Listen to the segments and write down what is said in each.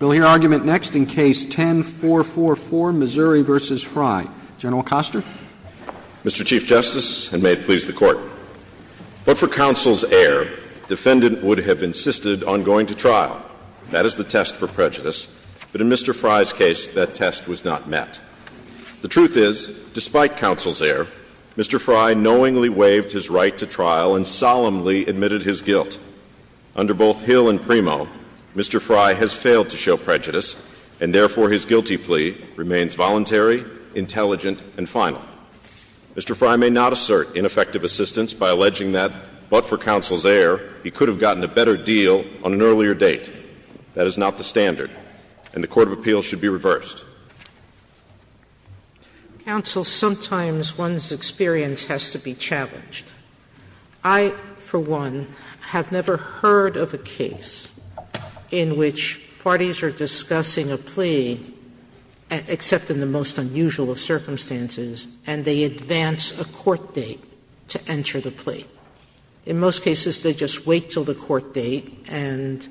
We'll hear argument next in Case 10-444, Missouri v. Frye. General Costner. Mr. Chief Justice, and may it please the Court, but for counsel's error, defendant would have insisted on going to trial. That is the test for prejudice. But in Mr. Frye's case, that test was not met. The truth is, despite counsel's error, Mr. Frye knowingly waived his right to trial and solemnly admitted his guilt. Under both Hill and Primo, Mr. Frye has failed to show prejudice, and therefore his guilty plea remains voluntary, intelligent, and final. Mr. Frye may not assert ineffective assistance by alleging that, but for counsel's error, he could have gotten a better deal on an earlier date. That is not the standard, and the Court of Appeals should be reversed. Sotomayor Counsel, sometimes one's experience has to be challenged. I, for one, have never heard of a case in which parties are discussing a plea, except in the most unusual of circumstances, and they advance a court date to enter the plea. In most cases, they just wait until the court date and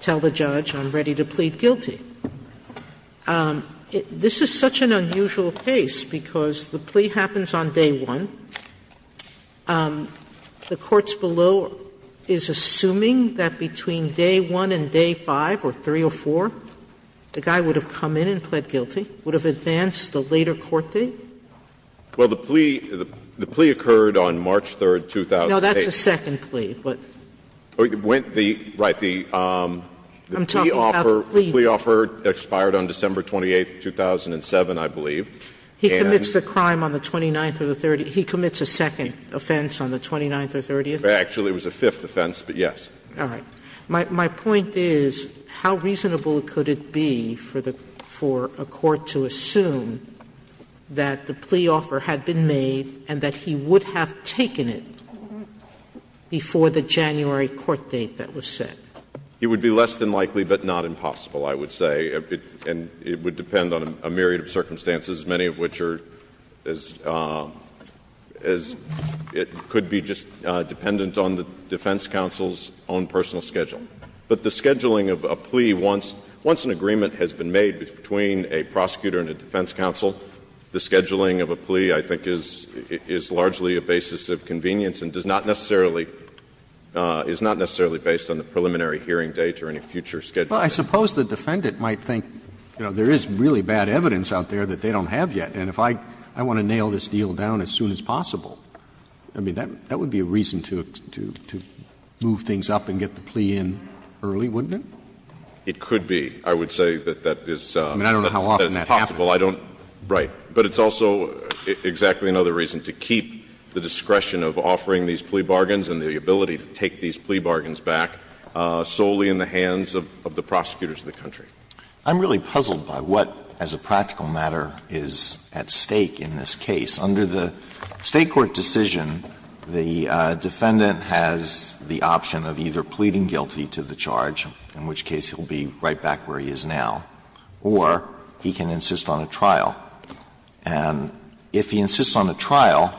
tell the judge, I'm ready to plead guilty. This is such an unusual case because the plea happens on day one, the courts below is assuming that between day one and day five, or three or four, the guy would have come in and pled guilty, would have advanced the later court date? Well, the plea occurred on March 3, 2008. No, that's the second plea. Right. The plea offer expired on December 28, 2007, I believe. He commits the crime on the 29th or the 30th. He commits a second offense on the 29th or 30th. Actually, it was a fifth offense, but yes. All right. My point is, how reasonable could it be for the – for a court to assume that the plea offer had been made and that he would have taken it before the January court date that was set? It would be less than likely, but not impossible, I would say. And it would depend on a myriad of circumstances, many of which are as – as it could be just dependent on the defense counsel's own personal schedule. But the scheduling of a plea once – once an agreement has been made between a prosecutor and a defense counsel, the scheduling of a plea, I think, is largely a basis of convenience and does not necessarily – is not necessarily based on the preliminary hearing date or any future schedule. Well, I suppose the defendant might think, you know, there is really bad evidence out there that they don't have yet, and if I – I want to nail this deal down as soon as possible. I mean, that would be a reason to – to move things up and get the plea in early, wouldn't it? It could be. I would say that that is a possible. I mean, I don't know how often that happens. I don't – right. But it's also exactly another reason to keep the discretion of offering these plea bargains and the ability to take these plea bargains back solely in the hands of the prosecutors of the country. I'm really puzzled by what, as a practical matter, is at stake in this case. Under the State court decision, the defendant has the option of either pleading guilty to the charge, in which case he will be right back where he is now, or he can insist on a trial. And if he insists on a trial,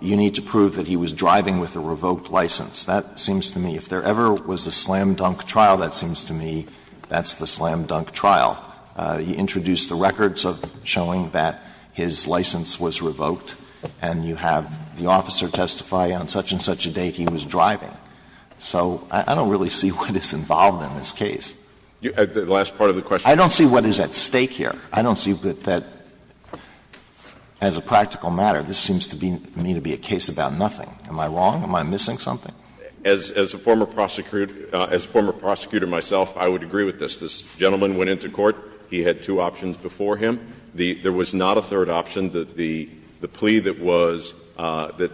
you need to prove that he was driving with a revoked license. That seems to me, if there ever was a slam-dunk trial, that seems to me that's the slam-dunk trial. You introduce the records of showing that his license was revoked, and you have the officer testify on such-and-such a date he was driving. So I don't really see what is involved in this case. I don't see what is at stake here. I don't see that, as a practical matter, this seems to me to be a case about nothing. Am I wrong? Am I missing something? As a former prosecutor, as a former prosecutor myself, I would agree with this. This gentleman went into court, he had two options before him. There was not a third option. The plea that was, that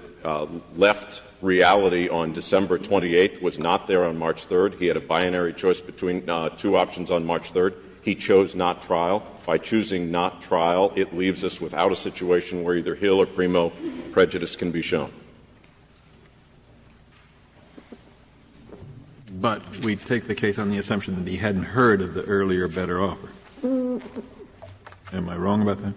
left reality on December 28th was not there on March 3rd. He had a binary choice between two options on March 3rd. He chose not trial. By choosing not trial, it leaves us without a situation where either Hill or Primo prejudice can be shown. But we take the case on the assumption that he hadn't heard of the earlier better offer. Am I wrong about that?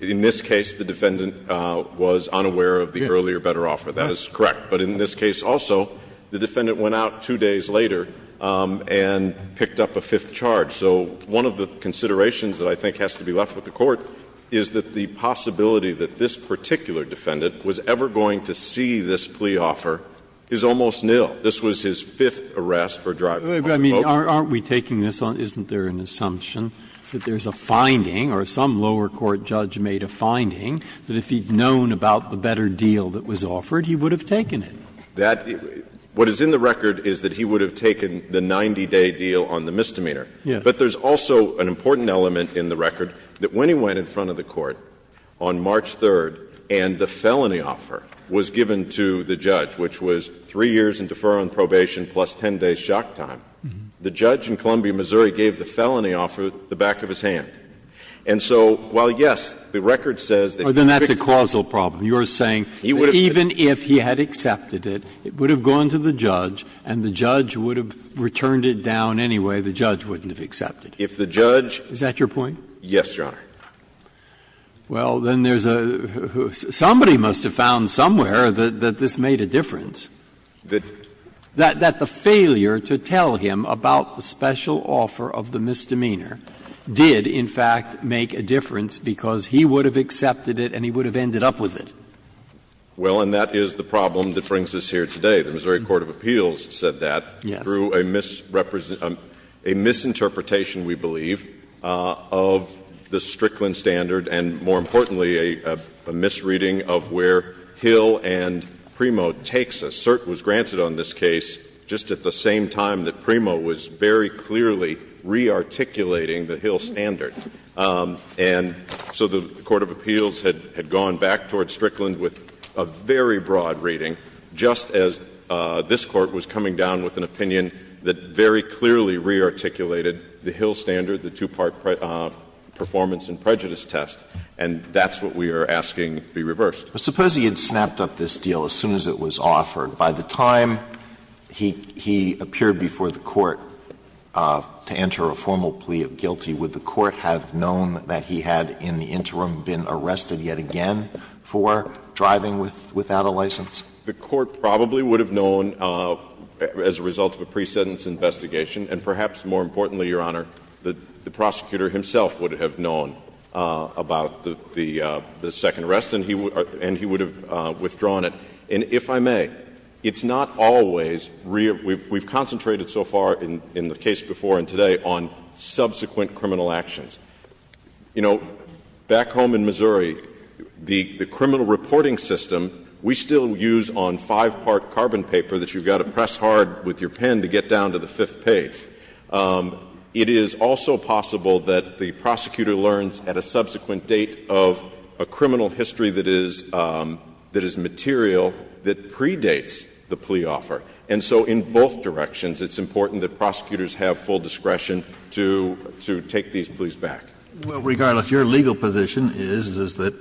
In this case, the defendant was unaware of the earlier better offer. That is correct. But in this case also, the defendant went out two days later and picked up a fifth charge. So one of the considerations that I think has to be left with the Court is that the plea offer is almost nil. This was his fifth arrest for driving under the code. Aren't we taking this on, isn't there an assumption that there's a finding or some lower court judge made a finding that if he'd known about the better deal that was offered, he would have taken it? That, what is in the record is that he would have taken the 90-day deal on the misdemeanor. Yes. But there's also an important element in the record that when he went in front of the judge, the penalty was given to the judge, which was 3 years in deferral and probation plus 10 days' shock time. The judge in Columbia, Missouri, gave the felony offer the back of his hand. And so while, yes, the record says that he picked it. Then that's a causal problem. You're saying that even if he had accepted it, it would have gone to the judge and the judge would have returned it down anyway. The judge wouldn't have accepted it. If the judge. Is that your point? Yes, Your Honor. Well, then there's a ---- somebody must have found somewhere that this made a difference. That the failure to tell him about the special offer of the misdemeanor did, in fact, make a difference because he would have accepted it and he would have ended up with it. Well, and that is the problem that brings us here today. The Missouri Court of Appeals said that. Yes. Through a misinterpretation, we believe, of the Strickland standard and, more importantly, a misreading of where Hill and Primo takes us. CERT was granted on this case just at the same time that Primo was very clearly re-articulating the Hill standard. And so the Court of Appeals had gone back towards Strickland with a very broad reading, just as this Court was coming down with an opinion that very clearly re-articulated the Hill standard, the two-part performance and prejudice test. And that's what we are asking be reversed. Suppose he had snapped up this deal as soon as it was offered. By the time he appeared before the Court to enter a formal plea of guilty, would the Court have known that he had, in the interim, been arrested yet again for driving without a license? The Court probably would have known as a result of a pre-sentence investigation. And perhaps, more importantly, Your Honor, the prosecutor himself would have known about the second arrest and he would have withdrawn it. And if I may, it's not always, we've concentrated so far in the case before and today on subsequent criminal actions. You know, back home in Missouri, the criminal reporting system, we still use on five-part carbon paper that you've got to press hard with your pen to get down to the fifth page. It is also possible that the prosecutor learns at a subsequent date of a criminal history that is material that predates the plea offer. And so in both directions, it's important that prosecutors have full discretion to take these pleas back. Regardless, your legal position is that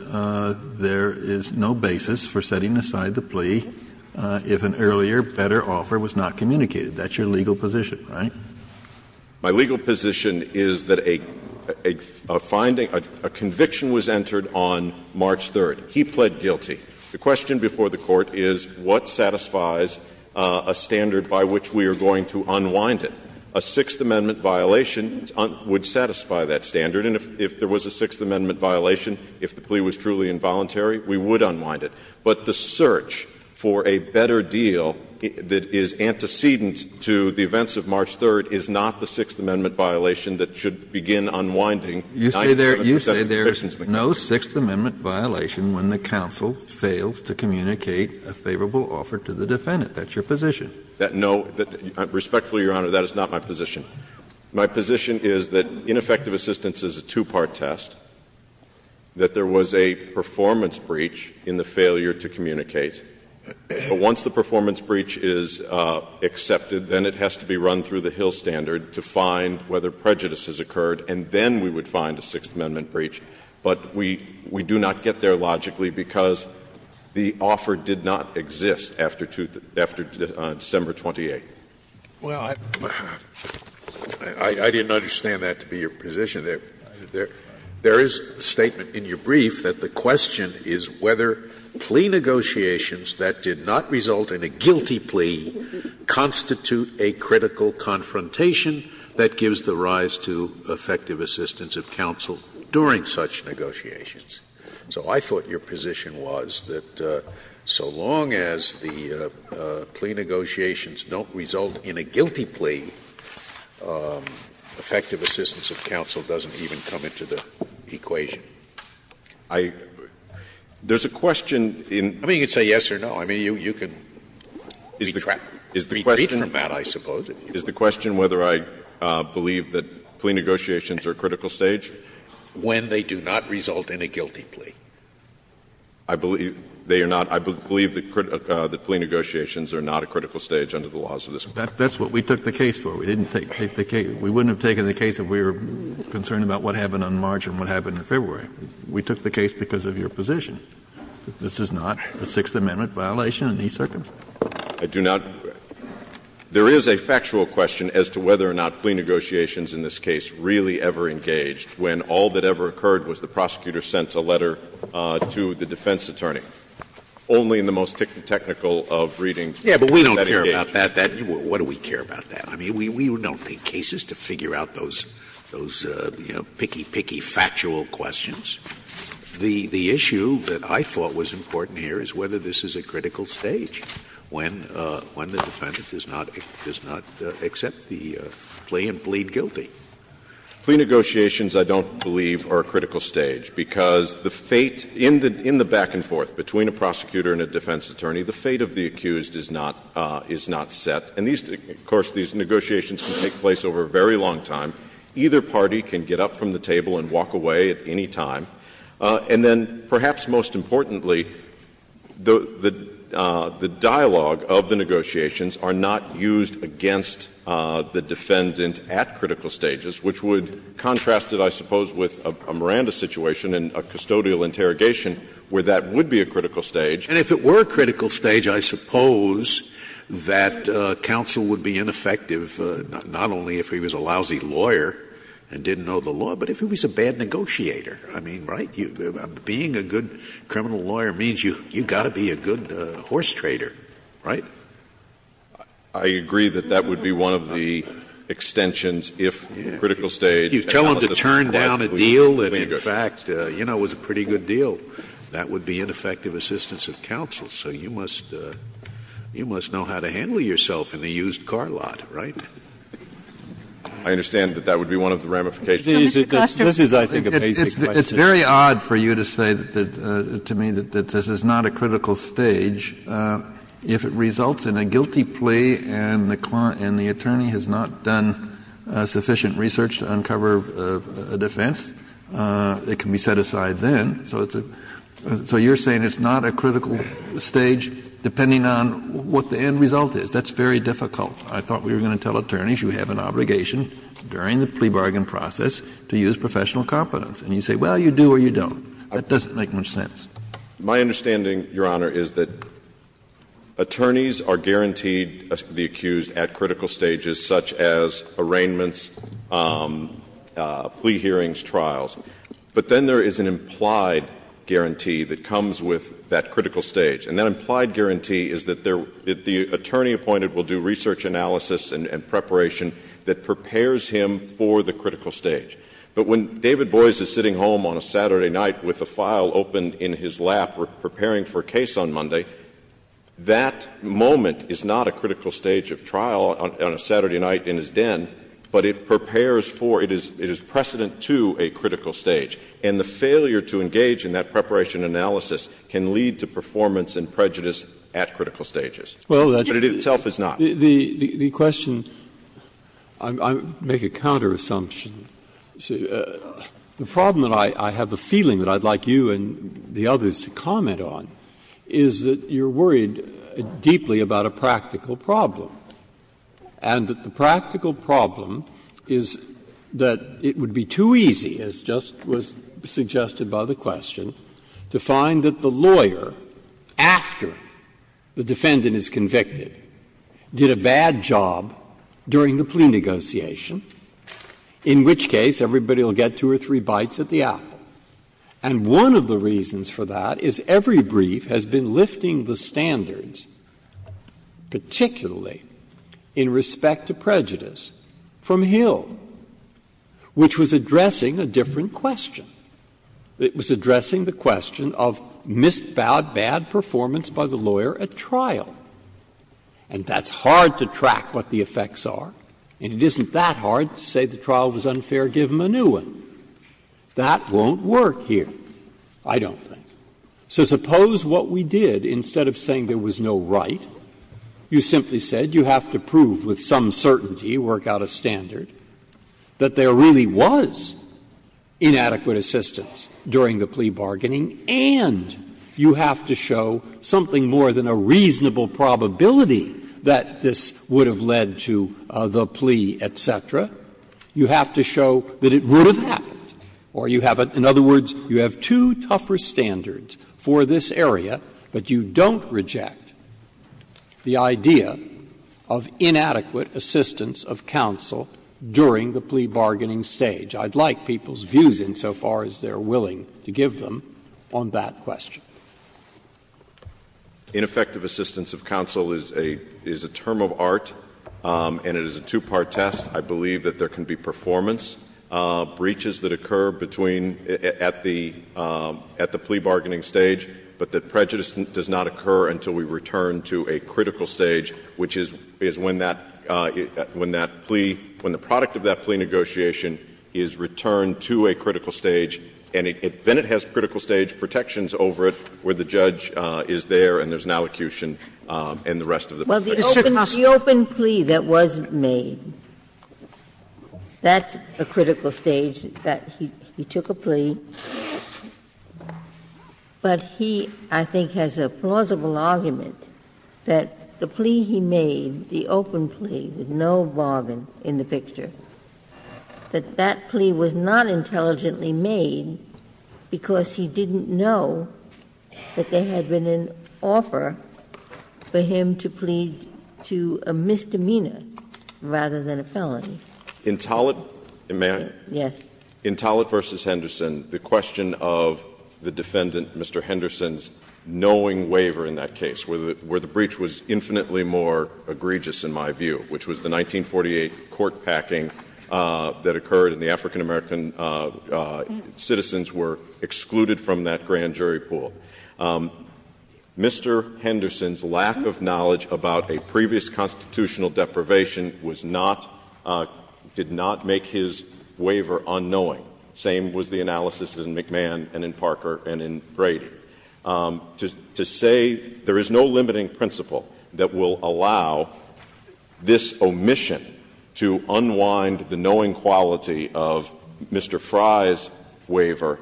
there is no basis for setting aside the plea if an earlier, better offer was not communicated. That's your legal position, right? My legal position is that a finding, a conviction was entered on March 3rd. He pled guilty. The question before the Court is what satisfies a standard by which we are going to unwind it. A Sixth Amendment violation would satisfy that standard. And if there was a Sixth Amendment violation, if the plea was truly involuntary, we would unwind it. But the search for a better deal that is antecedent to the events of March 3rd is not the Sixth Amendment violation that should begin unwinding 97 percent of the convictions in the case. If the plaintiff fails to communicate a favorable offer to the defendant, that's your position? No. Respectfully, Your Honor, that is not my position. My position is that ineffective assistance is a two-part test, that there was a performance breach in the failure to communicate. But once the performance breach is accepted, then it has to be run through the Hill standard to find whether prejudice has occurred, and then we would find a Sixth Amendment breach. But we do not get there logically because the offer did not exist after December 28th. Well, I didn't understand that to be your position. There is a statement in your brief that the question is whether plea negotiations that did not result in a guilty plea constitute a critical confrontation that gives the rise to effective assistance of counsel during such negotiations. So I thought your position was that so long as the plea negotiations don't result in a guilty plea, effective assistance of counsel doesn't even come into the equation. I — there's a question in — I mean, you can say yes or no. I mean, you can be trapped — retreat from that, I suppose. Is the question whether I believe that plea negotiations are a critical stage? When they do not result in a guilty plea. I believe they are not. I believe that plea negotiations are not a critical stage under the laws of this Court. That's what we took the case for. We didn't take the case — we wouldn't have taken the case if we were concerned about what happened on March and what happened in February. We took the case because of your position. This is not a Sixth Amendment violation in these circumstances. I do not. There is a factual question as to whether or not plea negotiations in this case really ever engaged when all that ever occurred was the prosecutor sent a letter to the defense attorney. Only in the most technical of readings is that engaged. Yeah, but we don't care about that. What do we care about that? I mean, we don't take cases to figure out those — those, you know, picky, picky, factual questions. The issue that I thought was important here is whether this is a critical stage. When the defendant does not accept the plea and plead guilty. Plea negotiations, I don't believe, are a critical stage, because the fate in the back and forth between a prosecutor and a defense attorney, the fate of the accused is not set. And these — of course, these negotiations can take place over a very long time. Either party can get up from the table and walk away at any time. And then, perhaps most importantly, the — the dialogue of the negotiations are not used against the defendant at critical stages, which would contrast it, I suppose, with a Miranda situation and a custodial interrogation where that would be a critical stage. And if it were a critical stage, I suppose that counsel would be ineffective not only if he was a lousy lawyer and didn't know the law, but if he was a bad negotiator. I mean, right? Being a good criminal lawyer means you've got to be a good horse trader, right? I agree that that would be one of the extensions if critical stage and how it was described would be good. You tell them to turn down a deal that, in fact, you know, was a pretty good deal. That would be ineffective assistance of counsel. So you must — you must know how to handle yourself in the used car lot, right? I understand that that would be one of the ramifications. This is, I think, a basic question. It's very odd for you to say to me that this is not a critical stage. If it results in a guilty plea and the attorney has not done sufficient research to uncover a defense, it can be set aside then. So it's a — so you're saying it's not a critical stage depending on what the end result is. That's very difficult. I thought we were going to tell attorneys you have an obligation during the plea bargain process to use professional competence. And you say, well, you do or you don't. That doesn't make much sense. My understanding, Your Honor, is that attorneys are guaranteed to be accused at critical stages such as arraignments, plea hearings, trials. But then there is an implied guarantee that comes with that critical stage. And that implied guarantee is that the attorney appointed will do research analysis and preparation that prepares him for the critical stage. But when David Boies is sitting home on a Saturday night with a file open in his lap preparing for a case on Monday, that moment is not a critical stage of trial on a Saturday night in his den, but it prepares for — it is precedent to a critical stage. And the failure to engage in that preparation analysis can lead to performance and prejudice at critical stages. But it itself is not. Breyer. The question — I make a counter-assumption. The problem that I have a feeling that I would like you and the others to comment on is that you are worried deeply about a practical problem, and that the practical problem is that it would be too easy, as just was suggested by the question, to find that the lawyer, after the defendant is convicted, did a bad job during the plea negotiation, in which case everybody will get two or three bites at the apple. And one of the reasons for that is every brief has been lifting the standards, particularly in respect to prejudice, from Hill, which was addressing a different question. It was addressing the question of missed bad performance by the lawyer at trial. And that's hard to track what the effects are, and it isn't that hard to say the trial was unfair, give him a new one. That won't work here, I don't think. So suppose what we did, instead of saying there was no right, you simply said you have to prove with some certainty, work out a standard, that there really was inadequate assistance during the plea bargaining, and you have to show something more than a reasonable probability that this would have led to the plea, et cetera, you have to show that it would have happened, or you have a — in other words, you have two tougher standards for this area, but you don't reject the idea of inadequate assistance of counsel during the plea bargaining stage. I'd like people's views insofar as they're willing to give them on that question. Ineffective assistance of counsel is a term of art, and it is a two-part test. I believe that there can be performance breaches that occur between — at the plea bargaining stage, but that prejudice does not occur until we return to a critical stage, which is when that — when that plea — when the product of that plea negotiation is returned to a critical stage, and then it has critical stage protections over it where the judge is there and there's an allocution and the rest of the — JUSTICE GINSBURG Well, the open plea that was made, that's a critical stage, that he took a plea. But he, I think, has a plausible argument that the plea he made, the open plea, with no bargain in the picture, that that plea was not intelligently made because he didn't know that there had been an offer for him to plead to a misdemeanor rather than a felony. JUSTICE ALITO May I? JUSTICE GINSBURG Yes. In Tollett v. Henderson, the question of the defendant, Mr. Henderson's knowing waiver in that case, where the breach was infinitely more egregious in my view, which was the 1948 court packing that occurred and the African-American citizens were excluded from that grand jury pool. Mr. Henderson's lack of knowledge about a previous constitutional deprivation did not make his waiver unknowing. Same was the analysis in McMahon and in Parker and in Brady. To say there is no limiting principle that will allow this omission to unwind the knowing quality of Mr. Frye's waiver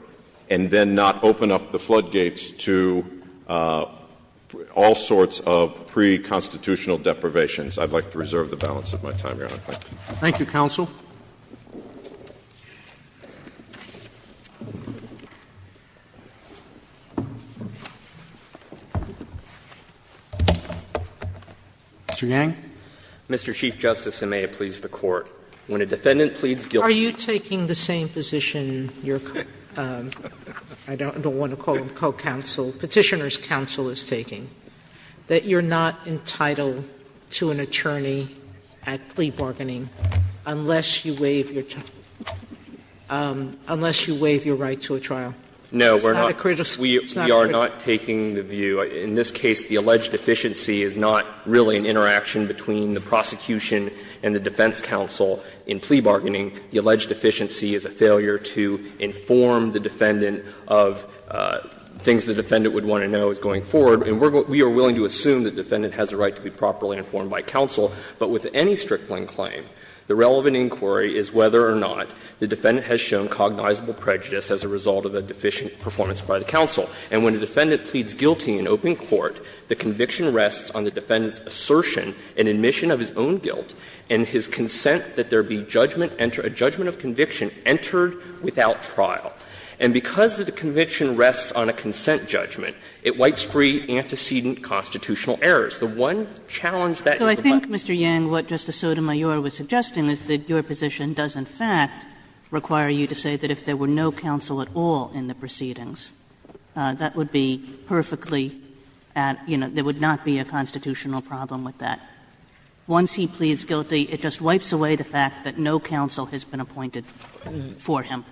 and then not open up the floodgates to all sorts of pre-constitutional deprivations, I'd like to reserve the balance of my time. Thank you, counsel. Mr. Yang. Mr. Chief Justice, and may it please the Court, when a defendant pleads guilty Are you taking the same position your, I don't want to call them co-counsel, Petitioner's counsel is taking, that you're not entitled to an attorney at plea bargaining unless you waive your, unless you waive your right to a trial? No, we're not. We are not taking the view. In this case, the alleged deficiency is not really an interaction between the prosecution and the defense counsel in plea bargaining. The alleged deficiency is a failure to inform the defendant of things the defendant would want to know as going forward, and we are willing to assume the defendant has a right to be properly informed by counsel, but with any Strickland claim, the relevant inquiry is whether or not the defendant has shown cognizable prejudice as a result of a deficient performance by the counsel. And when a defendant pleads guilty in open court, the conviction rests on the defendant's consent to enter a judgment of conviction entered without trial. And because the conviction rests on a consent judgment, it wipes free antecedent constitutional errors. The one challenge that is the question. Kagan. So I think, Mr. Yang, what Justice Sotomayor was suggesting is that your position does in fact require you to say that if there were no counsel at all in the proceedings, that would be perfectly at, you know, there would not be a constitutional problem with that. Once he pleads guilty, it just wipes away the fact that no counsel has been appointed for him.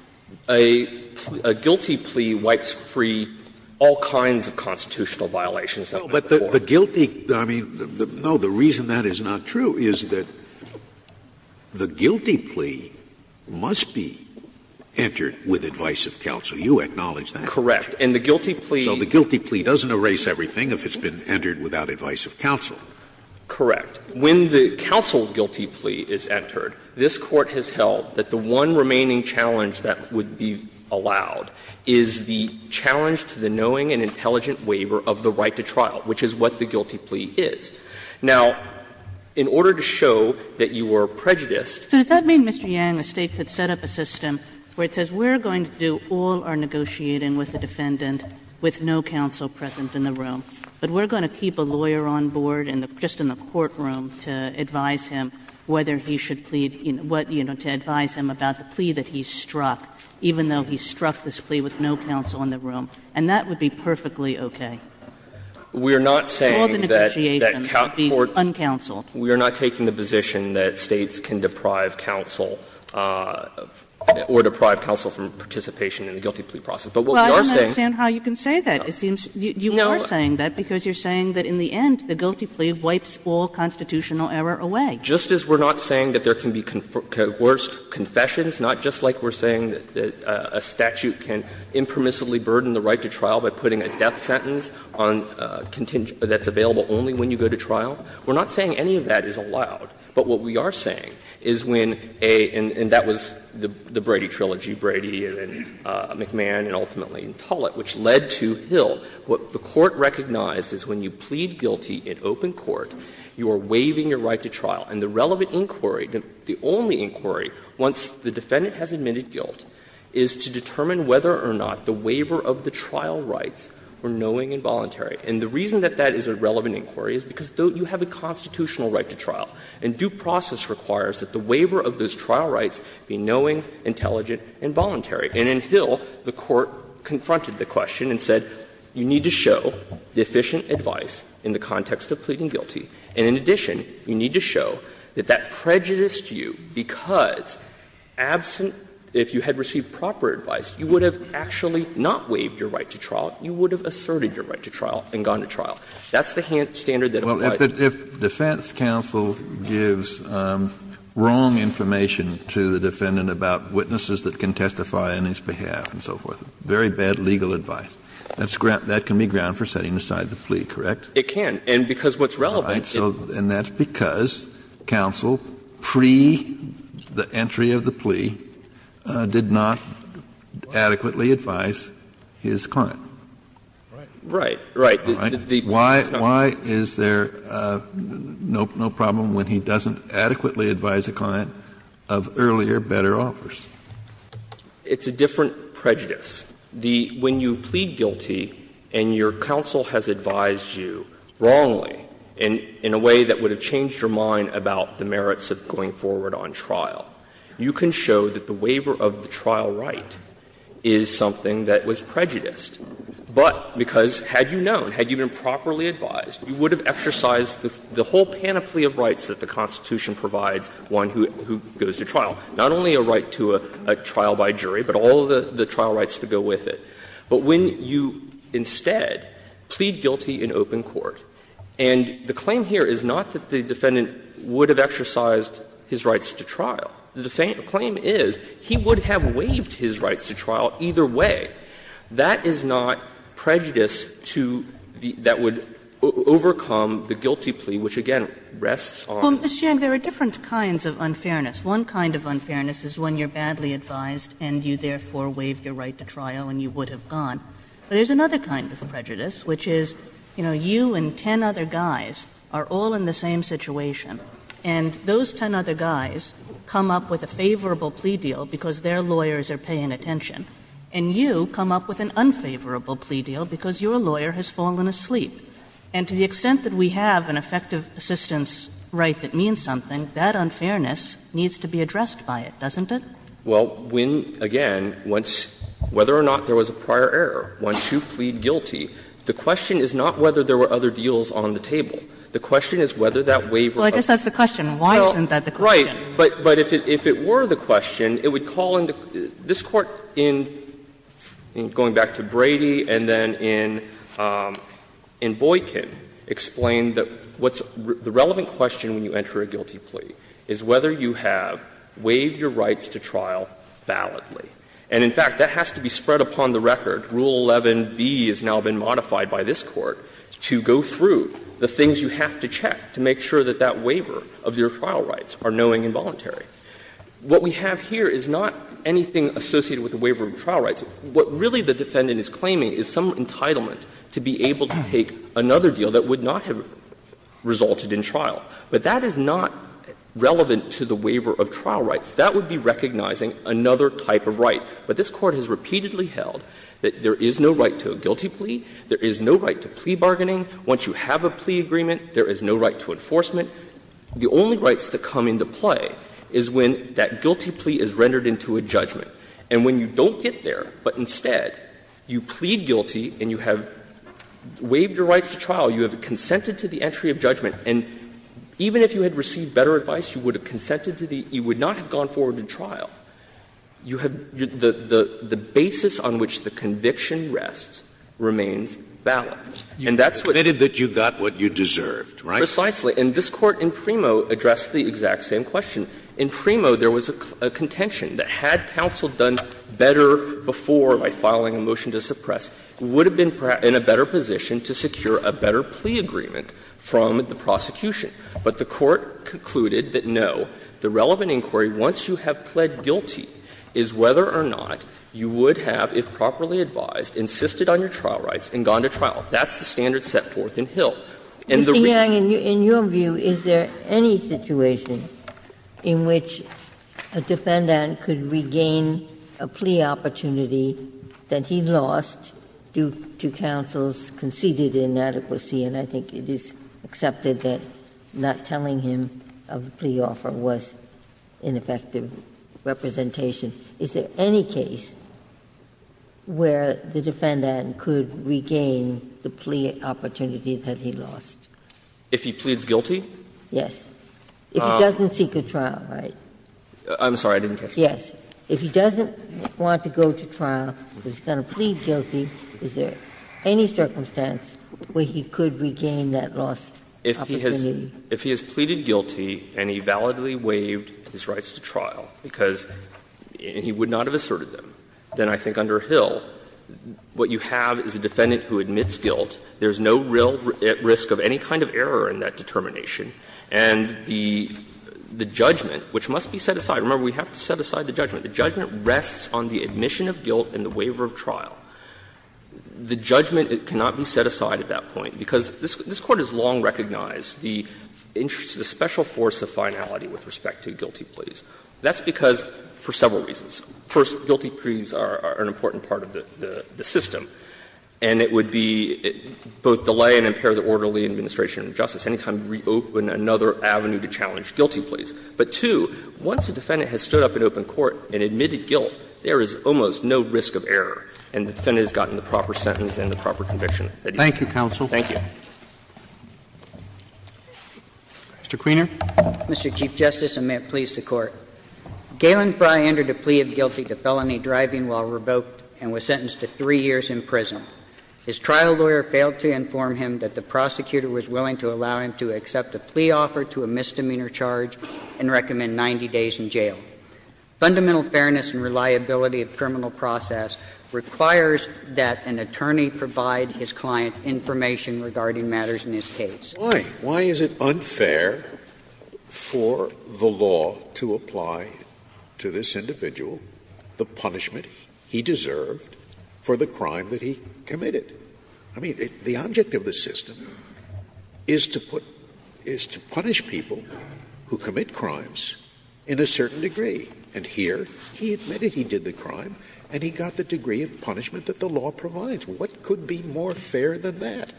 Yang. A guilty plea wipes free all kinds of constitutional violations that went before. Scalia. No, but the guilty, I mean, no, the reason that is not true is that the guilty plea must be entered with advice of counsel. You acknowledge that. Correct. And the guilty plea. So the guilty plea doesn't erase everything if it's been entered without advice of counsel. Correct. When the counsel guilty plea is entered, this Court has held that the one remaining challenge that would be allowed is the challenge to the knowing and intelligent waiver of the right to trial, which is what the guilty plea is. Now, in order to show that you were prejudiced. So does that mean, Mr. Yang, the State could set up a system where it says we're going to do all our negotiating with the defendant with no counsel present in the room? But we're going to keep a lawyer on board and just in the courtroom to advise him whether he should plead, you know, to advise him about the plea that he struck, even though he struck this plea with no counsel in the room, and that would be perfectly okay? We're not saying that. All the negotiations would be uncounseled. We are not taking the position that States can deprive counsel or deprive counsel from participation in the guilty plea process. But what we are saying. Well, I don't understand how you can say that. It seems you are saying that because you're saying that in the end the guilty plea wipes all constitutional error away. Just as we're not saying that there can be coerced confessions, not just like we're saying that a statute can impermissibly burden the right to trial by putting a death sentence on contingent that's available only when you go to trial, we're not saying any of that is allowed. But what we are saying is when a — and that was the Brady trilogy, Brady and then Hill, what the Court recognized is when you plead guilty in open court, you are waiving your right to trial. And the relevant inquiry, the only inquiry, once the defendant has admitted guilt, is to determine whether or not the waiver of the trial rights were knowing and voluntary. And the reason that that is a relevant inquiry is because you have a constitutional right to trial. And due process requires that the waiver of those trial rights be knowing, intelligent and voluntary. And in Hill, the Court confronted the question and said, you need to show deficient advice in the context of pleading guilty. And in addition, you need to show that that prejudiced you because absent — if you had received proper advice, you would have actually not waived your right to trial, you would have asserted your right to trial and gone to trial. That's the standard that applies. Kennedy. Kennedy. If defense counsel gives wrong information to the defendant about witnesses that can testify on his behalf and so forth, very bad legal advice, that can be ground for setting aside the plea, correct? It can. And because what's relevant — And that's because counsel, pre the entry of the plea, did not adequately advise his client. Right. Right. Right. Why is there no problem when he doesn't adequately advise a client of earlier, better offers? It's a different prejudice. When you plead guilty and your counsel has advised you wrongly in a way that would have changed your mind about the merits of going forward on trial, you can show that the waiver of the trial right is something that was prejudiced. But because had you known, had you been properly advised, you would have exercised the whole panoply of rights that the Constitution provides one who goes to trial. Not only a right to a trial by jury, but all of the trial rights that go with it. But when you instead plead guilty in open court, and the claim here is not that the defendant would have exercised his rights to trial. The claim is he would have waived his rights to trial either way. That is not prejudice to the that would overcome the guilty plea, which, again, rests on. Kagan. Well, Mr. Yang, there are different kinds of unfairness. One kind of unfairness is when you're badly advised, and you therefore waive your right to trial, and you would have gone. But there's another kind of prejudice, which is, you know, you and ten other guys are all in the same situation. And those ten other guys come up with a favorable plea deal because their lawyers are paying attention. And you come up with an unfavorable plea deal because your lawyer has fallen asleep. And to the extent that we have an effective assistance right that means something, that unfairness needs to be addressed by it, doesn't it? Well, when, again, once – whether or not there was a prior error, once you plead guilty, the question is not whether there were other deals on the table. The question is whether that waiver was. Well, I guess that's the question. Why isn't that the question? Right. But if it were the question, it would call into – this Court, in going back to Brady and then in Boykin, explained that what's the relevant question when you enter a guilty plea is whether you have waived your rights to trial validly. And, in fact, that has to be spread upon the record. Rule 11b has now been modified by this Court to go through the things you have to check to make sure that that waiver of your trial rights are knowing and voluntary. What we have here is not anything associated with the waiver of trial rights. What really the defendant is claiming is some entitlement to be able to take another deal that would not have resulted in trial. But that is not relevant to the waiver of trial rights. That would be recognizing another type of right. But this Court has repeatedly held that there is no right to a guilty plea, there is no right to plea bargaining. Once you have a plea agreement, there is no right to enforcement. The only rights that come into play is when that guilty plea is rendered into a judgment. And when you don't get there, but instead you plead guilty and you have waived your rights to trial, you have consented to the entry of judgment, and even if you had received better advice, you would have consented to the – you would not have gone forward to trial. You have – the basis on which the conviction rests remains valid. And that's what the Court has said. Scalia, you admitted that you got what you deserved, right? Precisely. And this Court in PRIMO addressed the exact same question. In PRIMO, there was a contention that had counsel done better before by filing a motion to suppress, would have been in a better position to secure a better plea agreement from the prosecution. But the Court concluded that, no, the relevant inquiry, once you have pled guilty, is whether or not you would have, if properly advised, insisted on your trial rights That's the standard set forth in Hill. Ginsburg. Mr. Yang, in your view, is there any situation in which a defendant could regain a plea opportunity that he lost due to counsel's conceded inadequacy, and I think it is accepted that not telling him of the plea offer was ineffective representation. Is there any case where the defendant could regain the plea opportunity that he lost If he pleads guilty? Yes. If he doesn't seek a trial, right? I'm sorry, I didn't catch that. Yes. If he doesn't want to go to trial, but he's going to plead guilty, is there any circumstance where he could regain that lost opportunity? If he has pleaded guilty and he validly waived his rights to trial, because he would And the judgment, which must be set aside, remember, we have to set aside the judgment. The judgment rests on the admission of guilt and the waiver of trial. The judgment cannot be set aside at that point, because this Court has long recognized the special force of finality with respect to guilty pleas. That's because, for several reasons. First, guilty pleas are an important part of the system. And it would be both delay and impair the orderly administration of justice. Any time we open another avenue to challenge guilty pleas. But, two, once the defendant has stood up in open court and admitted guilt, there is almost no risk of error, and the defendant has gotten the proper sentence and the proper conviction. Thank you, counsel. Thank you. Mr. Kuehner. Mr. Chief Justice, and may it please the Court. Galen Fry entered a plea of guilty to felony driving while revoked and was sentenced to three years in prison. His trial lawyer failed to inform him that the prosecutor was willing to allow him to accept a plea offer to a misdemeanor charge and recommend 90 days in jail. Fundamental fairness and reliability of criminal process requires that an attorney provide his client information regarding matters in his case. Why? Why is it unfair for the law to apply to this individual the punishment he deserved for the crime that he committed? I mean, the object of the system is to put – is to punish people who commit crimes in a certain degree. And here he admitted he did the crime and he got the degree of punishment that the law provides. What could be more fair than that?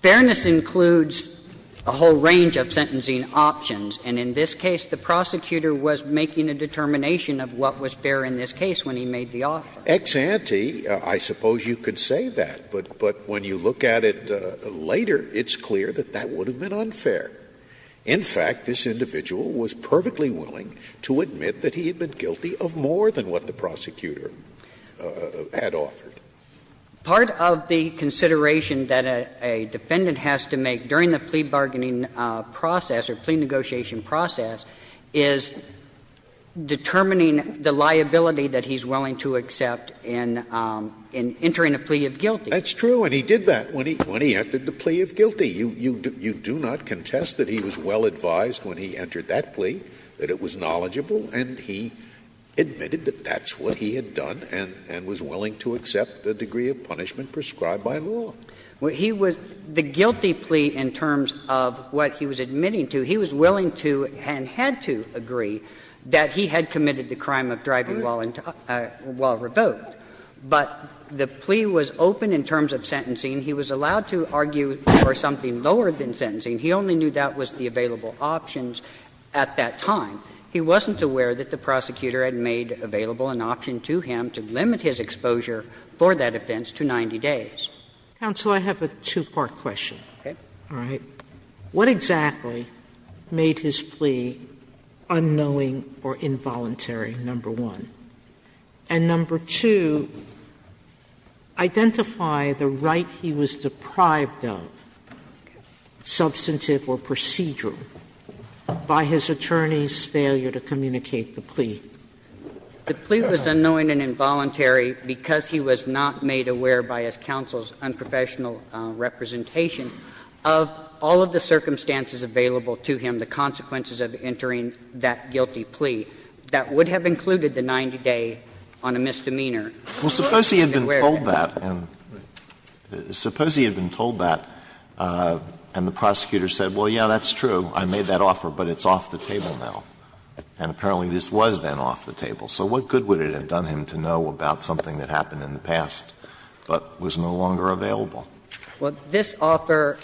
Fairness includes a whole range of sentencing options, and in this case the prosecutor was making a determination of what was fair in this case when he made the offer. Ex ante, I suppose you could say that, but when you look at it later, it's clear that that would have been unfair. In fact, this individual was perfectly willing to admit that he had been guilty of more than what the prosecutor had offered. Part of the consideration that a defendant has to make during the plea bargaining process or plea negotiation process is determining the liability that he's willing to accept in entering a plea of guilty. That's true, and he did that when he entered the plea of guilty. You do not contest that he was well advised when he entered that plea, that it was knowledgeable, and he admitted that that's what he had done and was willing to accept the degree of punishment prescribed by law. He was – the guilty plea in terms of what he was admitting to, he was willing to and had to agree that he had committed the crime of driving while revoked. But the plea was open in terms of sentencing. He was allowed to argue for something lower than sentencing. He only knew that was the available options at that time. He wasn't aware that the prosecutor had made available an option to him to limit his exposure for that offense to 90 days. Sotomayor, I have a two-part question. Okay. All right. What exactly made his plea unknowing or involuntary, number one? And number two, identify the right he was deprived of, substantive or procedural, by his attorney's failure to communicate the plea. The plea was unknowing and involuntary because he was not made aware by his counsel's all of the circumstances available to him, the consequences of entering that guilty plea, that would have included the 90-day on a misdemeanor. Alito, he was not aware of that. Alito, suppose he had been told that and the prosecutor said, well, yeah, that's true, I made that offer, but it's off the table now. And apparently this was then off the table. So what good would it have done him to know about something that happened in the past but was no longer available? Well, this offer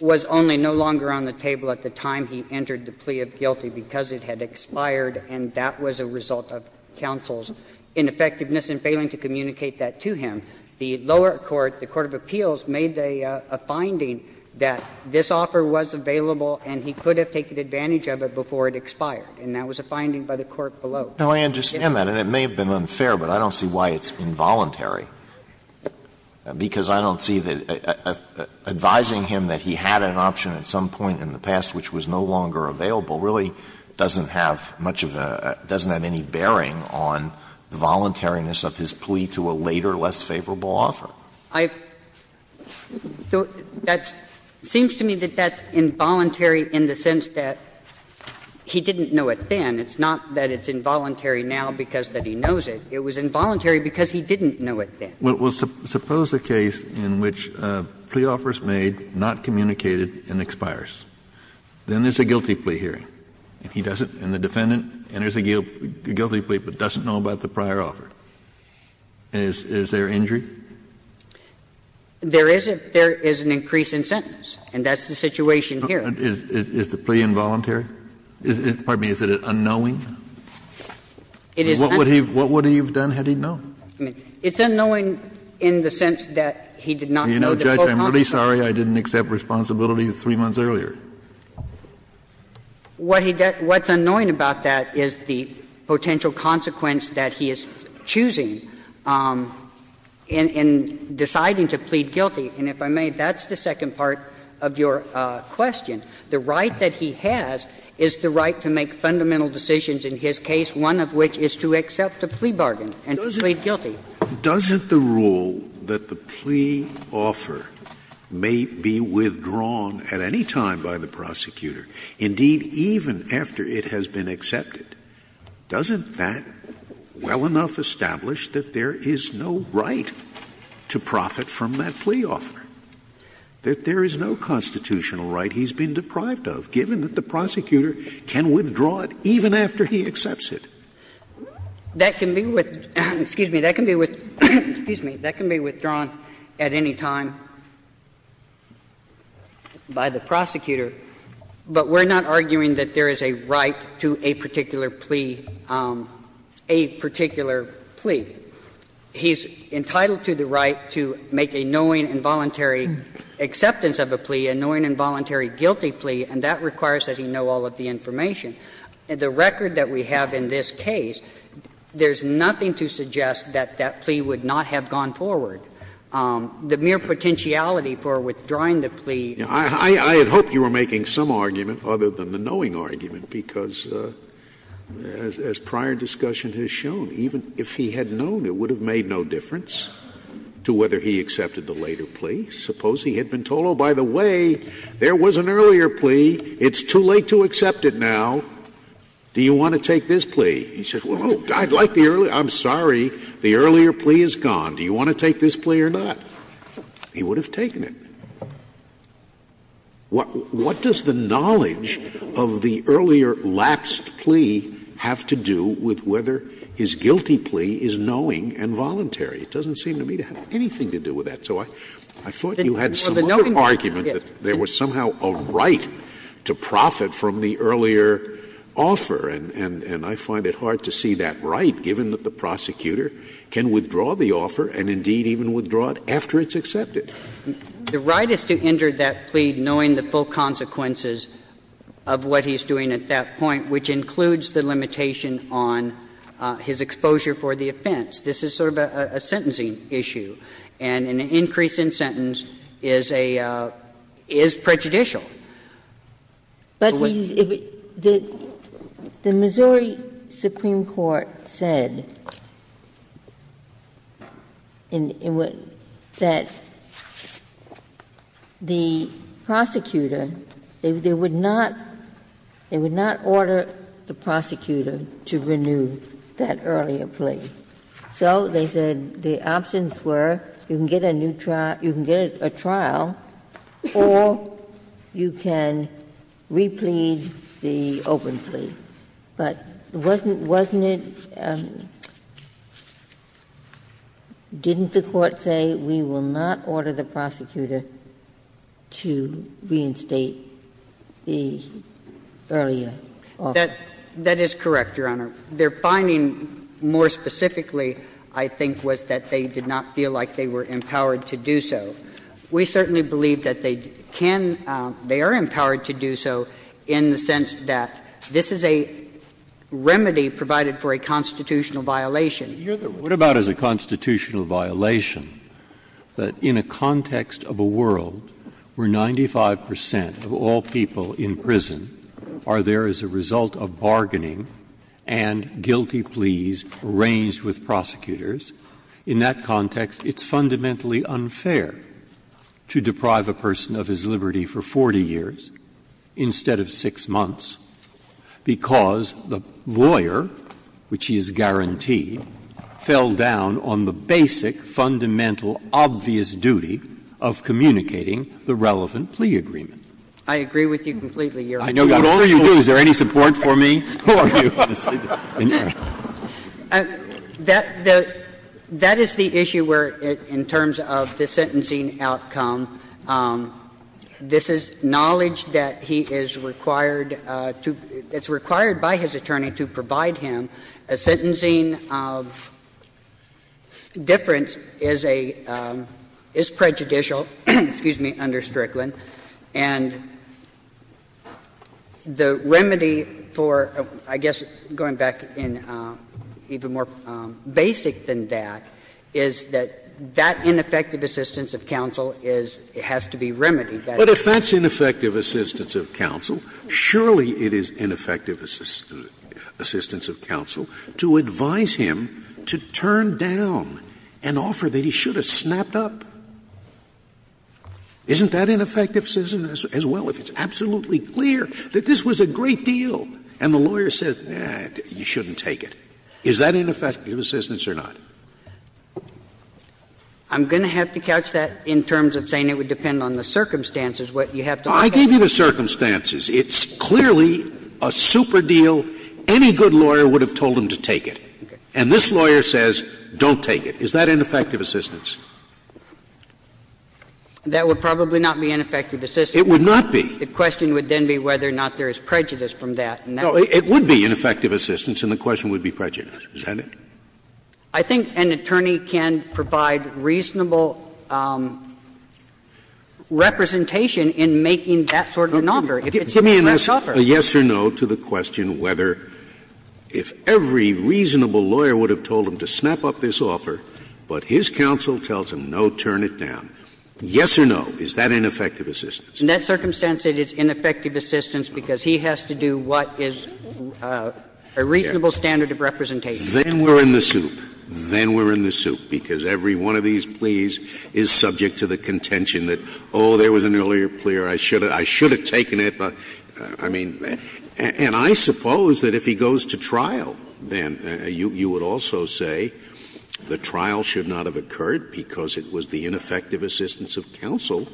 was only no longer on the table at the time he entered the plea of guilty because it had expired and that was a result of counsel's ineffectiveness in failing to communicate that to him. The lower court, the court of appeals, made a finding that this offer was available and he could have taken advantage of it before it expired, and that was a finding by the court below. Now, I understand that, and it may have been unfair, but I don't see why it's involuntary, because I don't see that advising him that he had an option at some point in the past which was no longer available really doesn't have much of a – doesn't have any bearing on the voluntariness of his plea to a later, less favorable offer. I don't – that's – it seems to me that that's involuntary in the sense that he didn't know it then. It's not that it's involuntary now because that he knows it. It was involuntary because he didn't know it then. Kennedy Well, suppose a case in which a plea offer is made, not communicated, and expires. Then there's a guilty plea hearing, and he doesn't, and the defendant enters a guilty plea but doesn't know about the prior offer. Is there injury? There is an increase in sentence, and that's the situation here. Is the plea involuntary? Pardon me. Is it unknowing? It is unknowing. What would he have done had he known? I mean, it's unknowing in the sense that he did not know the full consequence. Kennedy I'm really sorry. I didn't accept responsibility three months earlier. Kagan What he – what's unknowing about that is the potential consequence that he is choosing in deciding to plead guilty. And if I may, that's the second part of your question. The right that he has is the right to make fundamental decisions in his case, one of which is to accept a plea bargain. And to plead guilty. Scalia Doesn't the rule that the plea offer may be withdrawn at any time by the prosecutor, indeed, even after it has been accepted, doesn't that well enough establish that there is no right to profit from that plea offer, that there is no constitutional right he's been deprived of, given that the prosecutor can withdraw it even after he accepts it? Kagan That can be with – excuse me, that can be with – excuse me, that can be withdrawn at any time by the prosecutor, but we're not arguing that there is a right to a particular plea, a particular plea. He's entitled to the right to make a knowing and voluntary acceptance of a plea, a knowing and voluntary guilty plea, and that requires that he know all of the information. The record that we have in this case, there's nothing to suggest that that plea would not have gone forward. The mere potentiality for withdrawing the plea. Scalia I had hoped you were making some argument other than the knowing argument, because as prior discussion has shown, even if he had known, it would have made no difference to whether he accepted the later plea. Suppose he had been told, oh, by the way, there was an earlier plea, it's too late to accept it now, do you want to take this plea? He says, oh, I'd like the earlier – I'm sorry, the earlier plea is gone. Do you want to take this plea or not? He would have taken it. What does the knowledge of the earlier lapsed plea have to do with whether his guilty plea is knowing and voluntary? It doesn't seem to me to have anything to do with that. So I thought you had some other argument that there was somehow a right to profit from the earlier offer, and I find it hard to see that right, given that the prosecutor can withdraw the offer and indeed even withdraw it after it's accepted. The right is to enter that plea knowing the full consequences of what he's doing at that point, which includes the limitation on his exposure for the offense. This is sort of a sentencing issue, and an increase in sentence is prejudicial. But the Missouri Supreme Court said that the prosecutor, they would not order the prosecutor to renew that earlier plea. So they said the options were you can get a new trial, you can get a trial, or you can replead the open plea. But wasn't it – didn't the Court say we will not order the prosecutor to reinstate the earlier offer? That is correct, Your Honor. Their finding more specifically, I think, was that they did not feel like they were empowered to do so. We certainly believe that they can – they are empowered to do so in the sense that this is a remedy provided for a constitutional violation. What about as a constitutional violation, that in a context of a world where 95 percent of all people in prison are there as a result of bargaining and guilty pleas arranged with prosecutors, in that context it's fundamentally unfair to deprive a person of his liberty for 40 years instead of 6 months, because the lawyer, which he is guaranteed, fell down on the basic, fundamental, obvious duty of communicating the relevant plea agreement. I agree with you completely, Your Honor. I know you do. Is there any support for me? That is the issue where, in terms of the sentencing outcome, this is knowledge that he is required to – it's required by his attorney to provide him a sentencing of difference is a – is prejudicial, excuse me, under Strickland. And the remedy for, I guess, going back in even more basic than that, is that that ineffective assistance of counsel is – has to be remedied. But if that's ineffective assistance of counsel, surely it is ineffective assistance of counsel to advise him to turn down an offer that he should have snapped up. Isn't that ineffective assistance as well, if it's absolutely clear that this was a great deal, and the lawyer says, you shouldn't take it? Is that ineffective assistance or not? I'm going to have to couch that in terms of saying it would depend on the circumstances, what you have to understand. I gave you the circumstances. It's clearly a super deal. Any good lawyer would have told him to take it. And this lawyer says, don't take it. Is that ineffective assistance? That would probably not be ineffective assistance. It would not be. The question would then be whether or not there is prejudice from that. No, it would be ineffective assistance, and the question would be prejudice. Is that it? I think an attorney can provide reasonable representation in making that sort of an offer. Give me a yes or no to the question whether, if every reasonable lawyer would have to snap up this offer, but his counsel tells him, no, turn it down, yes or no, is that ineffective assistance? In that circumstance, it is ineffective assistance, because he has to do what is a reasonable standard of representation. Then we're in the soup. Then we're in the soup, because every one of these pleas is subject to the contention that, oh, there was an earlier plea or I should have taken it. But, I mean, and I suppose that if he goes to trial, then you would also say the trial should not have occurred, because it was the ineffective assistance of counsel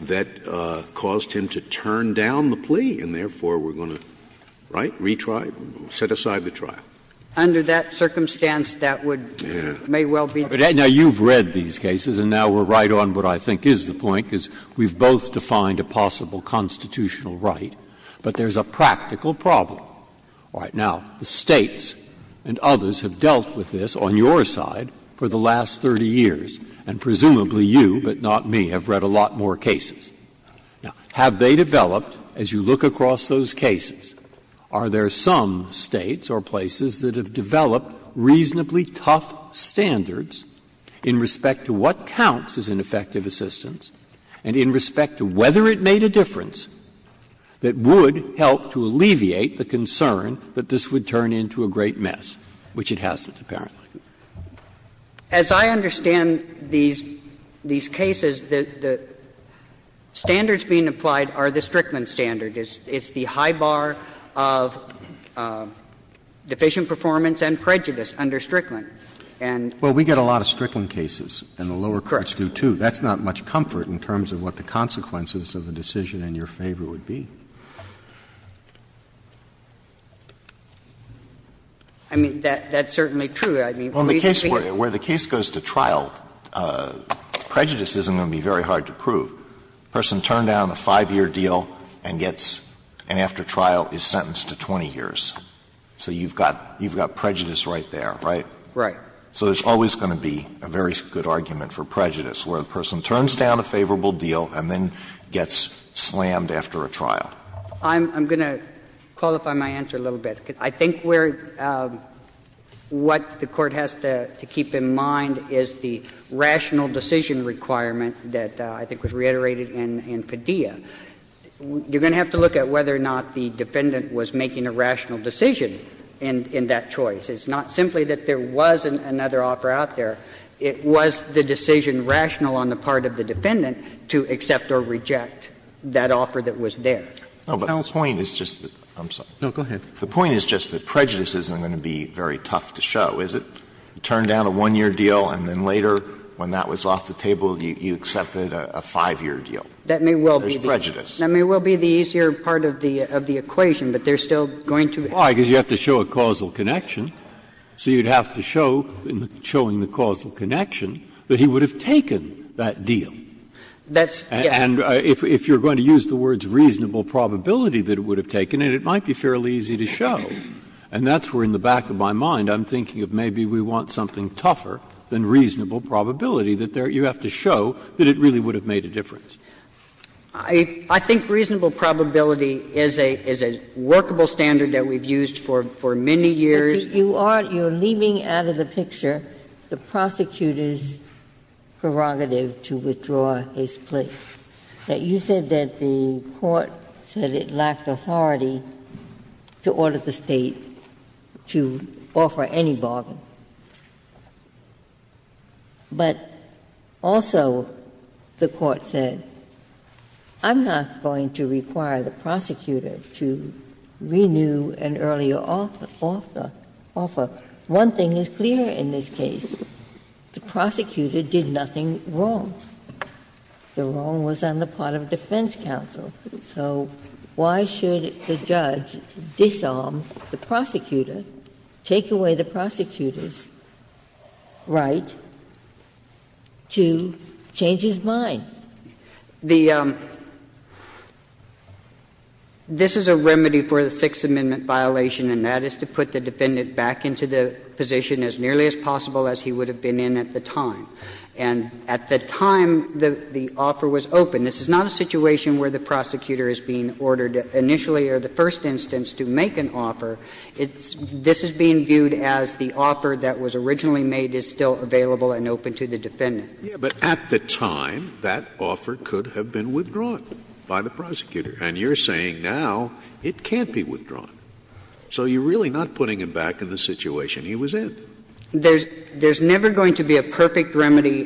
that caused him to turn down the plea, and therefore we're going to, right, retry, set aside the trial. Under that circumstance, that would may well be the case. Now, you've read these cases, and now we're right on what I think is the point, because we've both defined a possible constitutional right, but there's a practical problem. All right. Now, the States and others have dealt with this on your side for the last 30 years, and presumably you, but not me, have read a lot more cases. Now, have they developed, as you look across those cases, are there some States or places that have developed reasonably tough standards in respect to what counts as ineffective assistance and in respect to whether it made a difference that would help to alleviate the concern that this would turn into a great mess, which it hasn't, apparently? As I understand these cases, the standards being applied are the Strickland standard. It's the high bar of deficient performance and prejudice under Strickland. And the lower part is due to the lower part. So, too, that's not much comfort in terms of what the consequences of a decision in your favor would be. I mean, that's certainly true. I mean, reasonably. Alito, where the case goes to trial, prejudice isn't going to be very hard to prove. A person turned down a 5-year deal and gets and after trial is sentenced to 20 years. So you've got prejudice right there, right? Right. So there's always going to be a very good argument for prejudice, where the person turns down a favorable deal and then gets slammed after a trial. I'm going to qualify my answer a little bit. I think where what the Court has to keep in mind is the rational decision requirement that I think was reiterated in Padilla. You're going to have to look at whether or not the defendant was making a rational decision in that choice. It's not simply that there was another offer out there. It was the decision rational on the part of the defendant to accept or reject that offer that was there. Alito, the point is just that prejudice isn't going to be very tough to show, is it? Turn down a 1-year deal and then later, when that was off the table, you accepted a 5-year deal. That may well be the easier part of the equation, but there's still going to be. Breyer, if you're going to show a causal connection, so you'd have to show, in showing the causal connection, that he would have taken that deal. That's, yes. And if you're going to use the words reasonable probability that it would have taken, it might be fairly easy to show. And that's where in the back of my mind I'm thinking of maybe we want something tougher than reasonable probability, that you have to show that it really would have made a difference. I think reasonable probability is a workable standard that we've used for many years. You are leaving out of the picture the prosecutor's prerogative to withdraw his plea. You said that the Court said it lacked authority to order the State to offer any bargain. But also the Court said, I'm not going to require the prosecutor to renew an earlier offer. One thing is clear in this case. The prosecutor did nothing wrong. The wrong was on the part of defense counsel. So why should the judge disarm the prosecutor, take away the prosecutor's right to change his mind? The um, this is a remedy for the Sixth Amendment violation, and that is to put the defendant back into the position as nearly as possible as he would have been in at the time. And at the time the offer was open, this is not a situation where the prosecutor is being ordered initially or the first instance to make an offer. It's, this is being viewed as the offer that was originally made is still available and open to the defendant. Yeah, but at the time, that offer could have been withdrawn by the prosecutor. And you're saying now it can't be withdrawn. So you're really not putting him back in the situation he was in. There's, there's never going to be a perfect remedy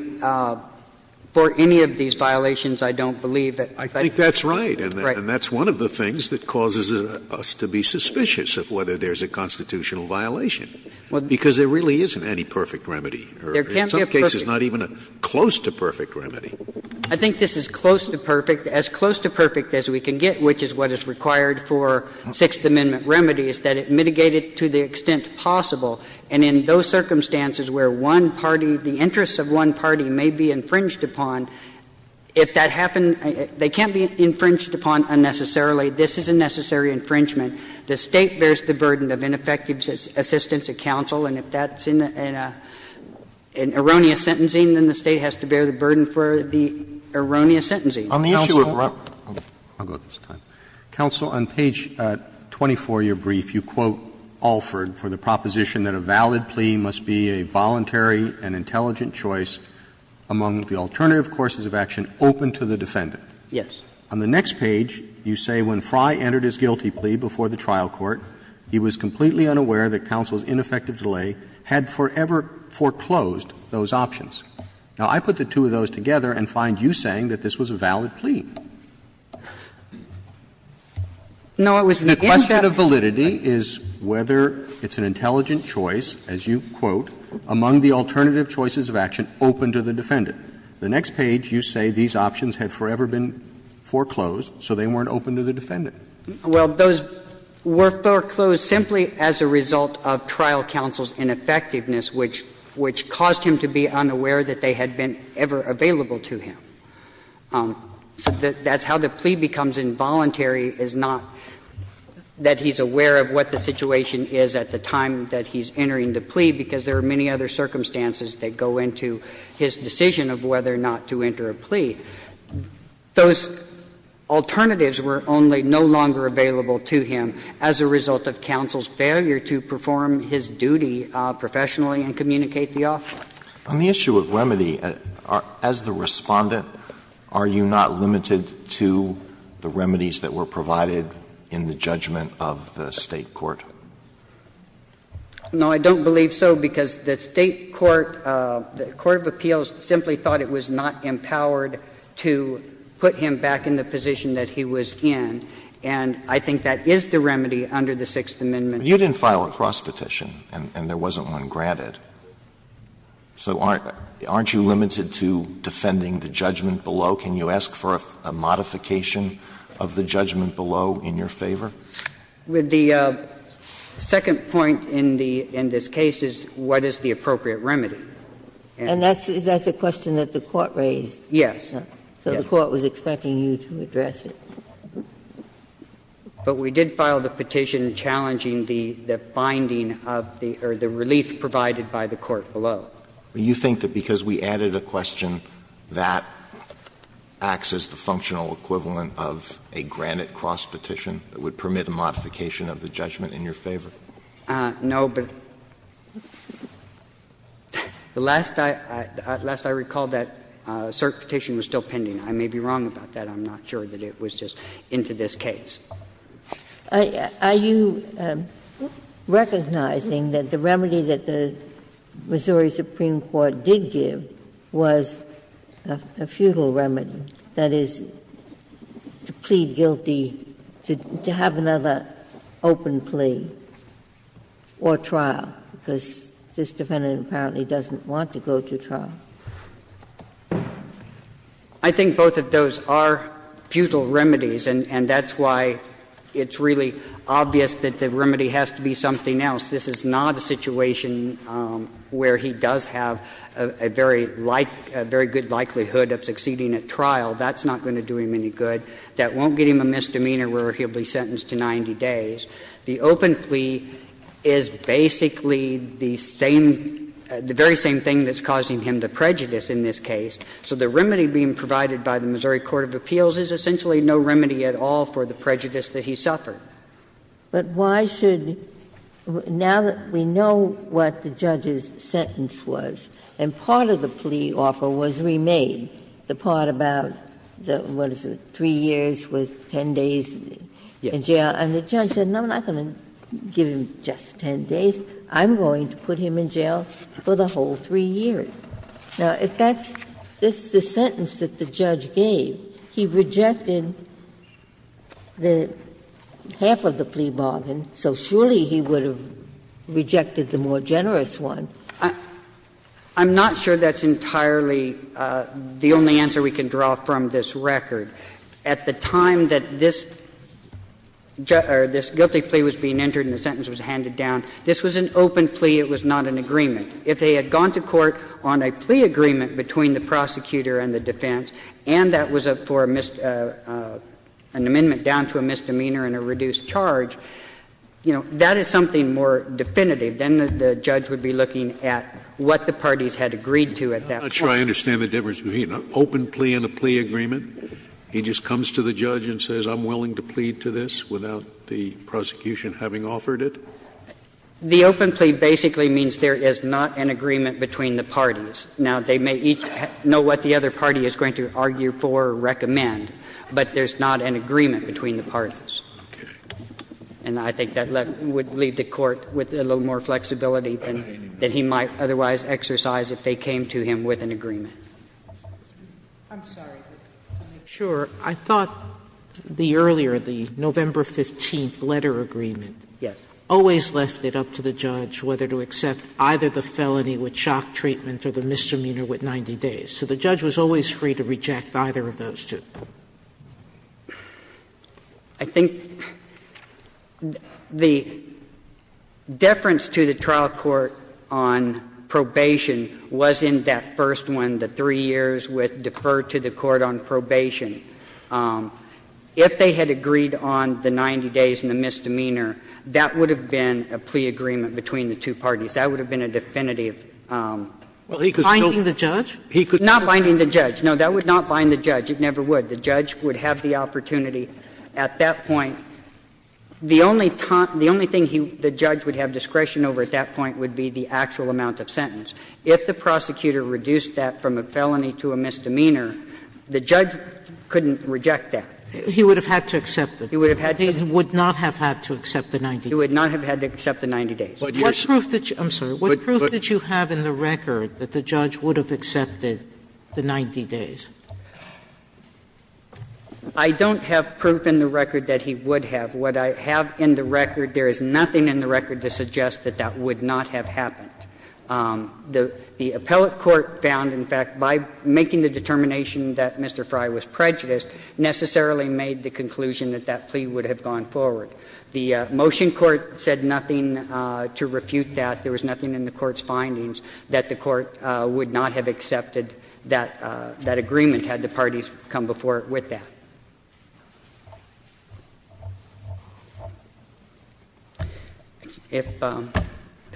for any of these violations, I don't believe. I think that's right. And that's one of the things that causes us to be suspicious of whether there's a constitutional violation. Because there really isn't any perfect remedy. There can't be a perfect. In some cases, not even a close to perfect remedy. I think this is close to perfect, as close to perfect as we can get, which is what is required for Sixth Amendment remedies, that it mitigate it to the extent possible. And in those circumstances where one party, the interests of one party may be infringed upon, if that happened, they can't be infringed upon unnecessarily. This is a necessary infringement. The State bears the burden of ineffective assistance of counsel. And if that's in an erroneous sentencing, then the State has to bear the burden for the erroneous sentencing. On the issue of Rep. Roberts, I'll go at this time. Counsel, on page 24 of your brief, you quote Alford for the proposition that a valid plea must be a voluntary and intelligent choice among the alternative courses of action open to the defendant. On the next page, you say when Frye entered his guilty plea before the trial court, he was completely unaware that counsel's ineffective delay had forever foreclosed those options. Now, I put the two of those together and find you saying that this was a valid plea. The question of validity is whether it's an intelligent choice, as you quote, among the alternative choices of action open to the defendant. The next page, you say these options had forever been foreclosed, so they weren't open to the defendant. Well, those were foreclosed simply as a result of trial counsel's ineffectiveness, which caused him to be unaware that they had been ever available to him. So that's how the plea becomes involuntary, is not that he's aware of what the situation is at the time that he's entering the plea, because there are many other circumstances that go into his decision of whether or not to enter a plea. Those alternatives were only no longer available to him as a result of counsel's failure to perform his duty professionally and communicate the offer. Alito, on the issue of remedy, as the Respondent, are you not limited to the remedies that were provided in the judgment of the State court? No, I don't believe so, because the State court, the court of appeals simply thought it was not empowered to put him back in the position that he was in, and I think that is the remedy under the Sixth Amendment. But you didn't file a cross petition, and there wasn't one granted. So aren't you limited to defending the judgment below? Can you ask for a modification of the judgment below in your favor? With the second point in the case is what is the appropriate remedy? And that's a question that the court raised. Yes. So the court was expecting you to address it. But we did file the petition challenging the finding of the relief provided by the court below. Do you think that because we added a question that acts as the functional equivalent of a granted cross petition that would permit a modification of the judgment in your favor? No, but the last I recalled that cert petition was still pending. I may be wrong about that. I'm not sure that it was just into this case. Are you recognizing that the remedy that the Missouri Supreme Court did give was a futile remedy, that is, to plead guilty, to have another open plea, or trial, because this defendant apparently doesn't want to go to trial? I think both of those are futile remedies, and that's why it's really obvious that the remedy has to be something else. This is not a situation where he does have a very like — a very good likelihood of succeeding at trial. That's not going to do him any good. That won't give him a misdemeanor where he'll be sentenced to 90 days. The open plea is basically the same — the very same thing that's causing him the prejudice in this case. So the remedy being provided by the Missouri Court of Appeals is essentially no remedy at all for the prejudice that he suffered. But why should — now that we know what the judge's sentence was, and part of the part about what is it, 3 years with 10 days in jail, and the judge said, no, I'm not going to give him just 10 days. I'm going to put him in jail for the whole 3 years. Now, if that's the sentence that the judge gave, he rejected the half of the plea bargain, so surely he would have rejected the more generous one. I'm not sure that's entirely the only answer we can draw from this record. At the time that this guilty plea was being entered and the sentence was handed down, this was an open plea. It was not an agreement. If they had gone to court on a plea agreement between the prosecutor and the defense, and that was for an amendment down to a misdemeanor and a reduced charge, you know, that is something more definitive than the judge would be looking at what the parties had agreed to at that point. Scalia. I'm not sure I understand the difference between an open plea and a plea agreement. He just comes to the judge and says, I'm willing to plead to this without the prosecution having offered it? The open plea basically means there is not an agreement between the parties. Now, they may each know what the other party is going to argue for or recommend, but there's not an agreement between the parties. And I think that would leave the Court with a little more flexibility than he might otherwise exercise if they came to him with an agreement. Sotomayor. I thought the earlier, the November 15th letter agreement, always left it up to the judge whether to accept either the felony with shock treatment or the misdemeanor with 90 days. So the judge was always free to reject either of those two. I think the deference to the trial court on probation was in that first one, the three years with defer to the court on probation. If they had agreed on the 90 days and the misdemeanor, that would have been a plea agreement between the two parties. That would have been a definitive. Finding the judge? Not finding the judge. No, that would not find the judge. It never would. The judge would have the opportunity at that point. The only thing the judge would have discretion over at that point would be the actual amount of sentence. If the prosecutor reduced that from a felony to a misdemeanor, the judge couldn't reject that. He would have had to accept it. He would have had to accept it. He would not have had to accept the 90 days. He would not have had to accept the 90 days. What proof did you have in the record that the judge would have accepted the 90 days? I don't have proof in the record that he would have. What I have in the record, there is nothing in the record to suggest that that would not have happened. The appellate court found, in fact, by making the determination that Mr. Frye was prejudiced necessarily made the conclusion that that plea would have gone forward. The motion court said nothing to refute that. There was nothing in the court's findings that the court would not have accepted that agreement had the parties come before it with that. If there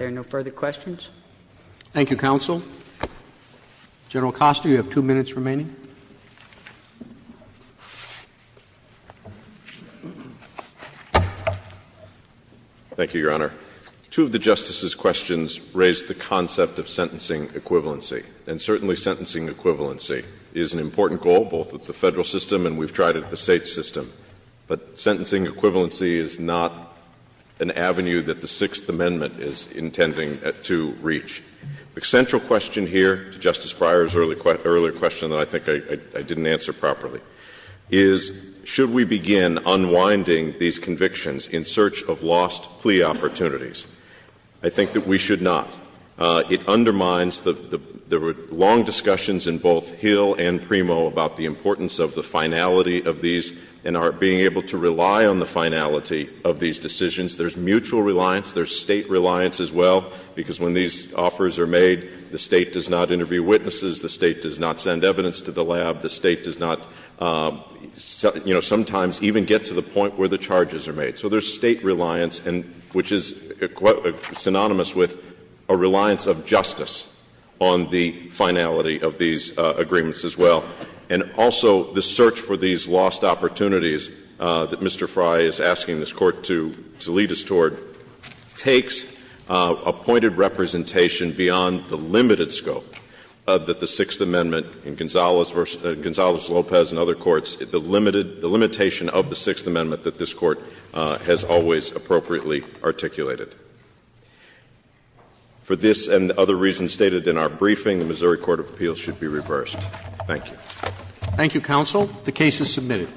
are no further questions. Thank you, counsel. General Costner, you have two minutes remaining. Thank you, Your Honor. Two of the Justice's questions raised the concept of sentencing equivalency. And certainly sentencing equivalency is an important goal, both at the Federal system and we've tried it at the State system. But sentencing equivalency is not an avenue that the Sixth Amendment is intending to reach. The central question here, Justice Breyer's earlier question that I think I didn't answer properly, is should we begin unwinding these convictions in search of lost plea opportunities? I think that we should not. It undermines the long discussions in both Hill and Primo about the importance of the finality of these and our being able to rely on the finality of these decisions. There's mutual reliance, there's State reliance as well, because when these offers are made, the State does not interview witnesses, the State does not send evidence to the lab, the State does not, you know, sometimes even get to the point where the charges are made. So there's State reliance, which is synonymous with a reliance of justice on the finality of these agreements as well. And also the search for these lost opportunities that Mr. Frye is asking this Court to lead us toward takes a pointed representation beyond the limited scope that the Sixth Amendment in Gonzales v. Lopez and other courts, the limitation of the Sixth Amendment, has always appropriately articulated. For this and other reasons stated in our briefing, the Missouri Court of Appeals should be reversed. Thank you. Thank you, Counsel. The case is submitted.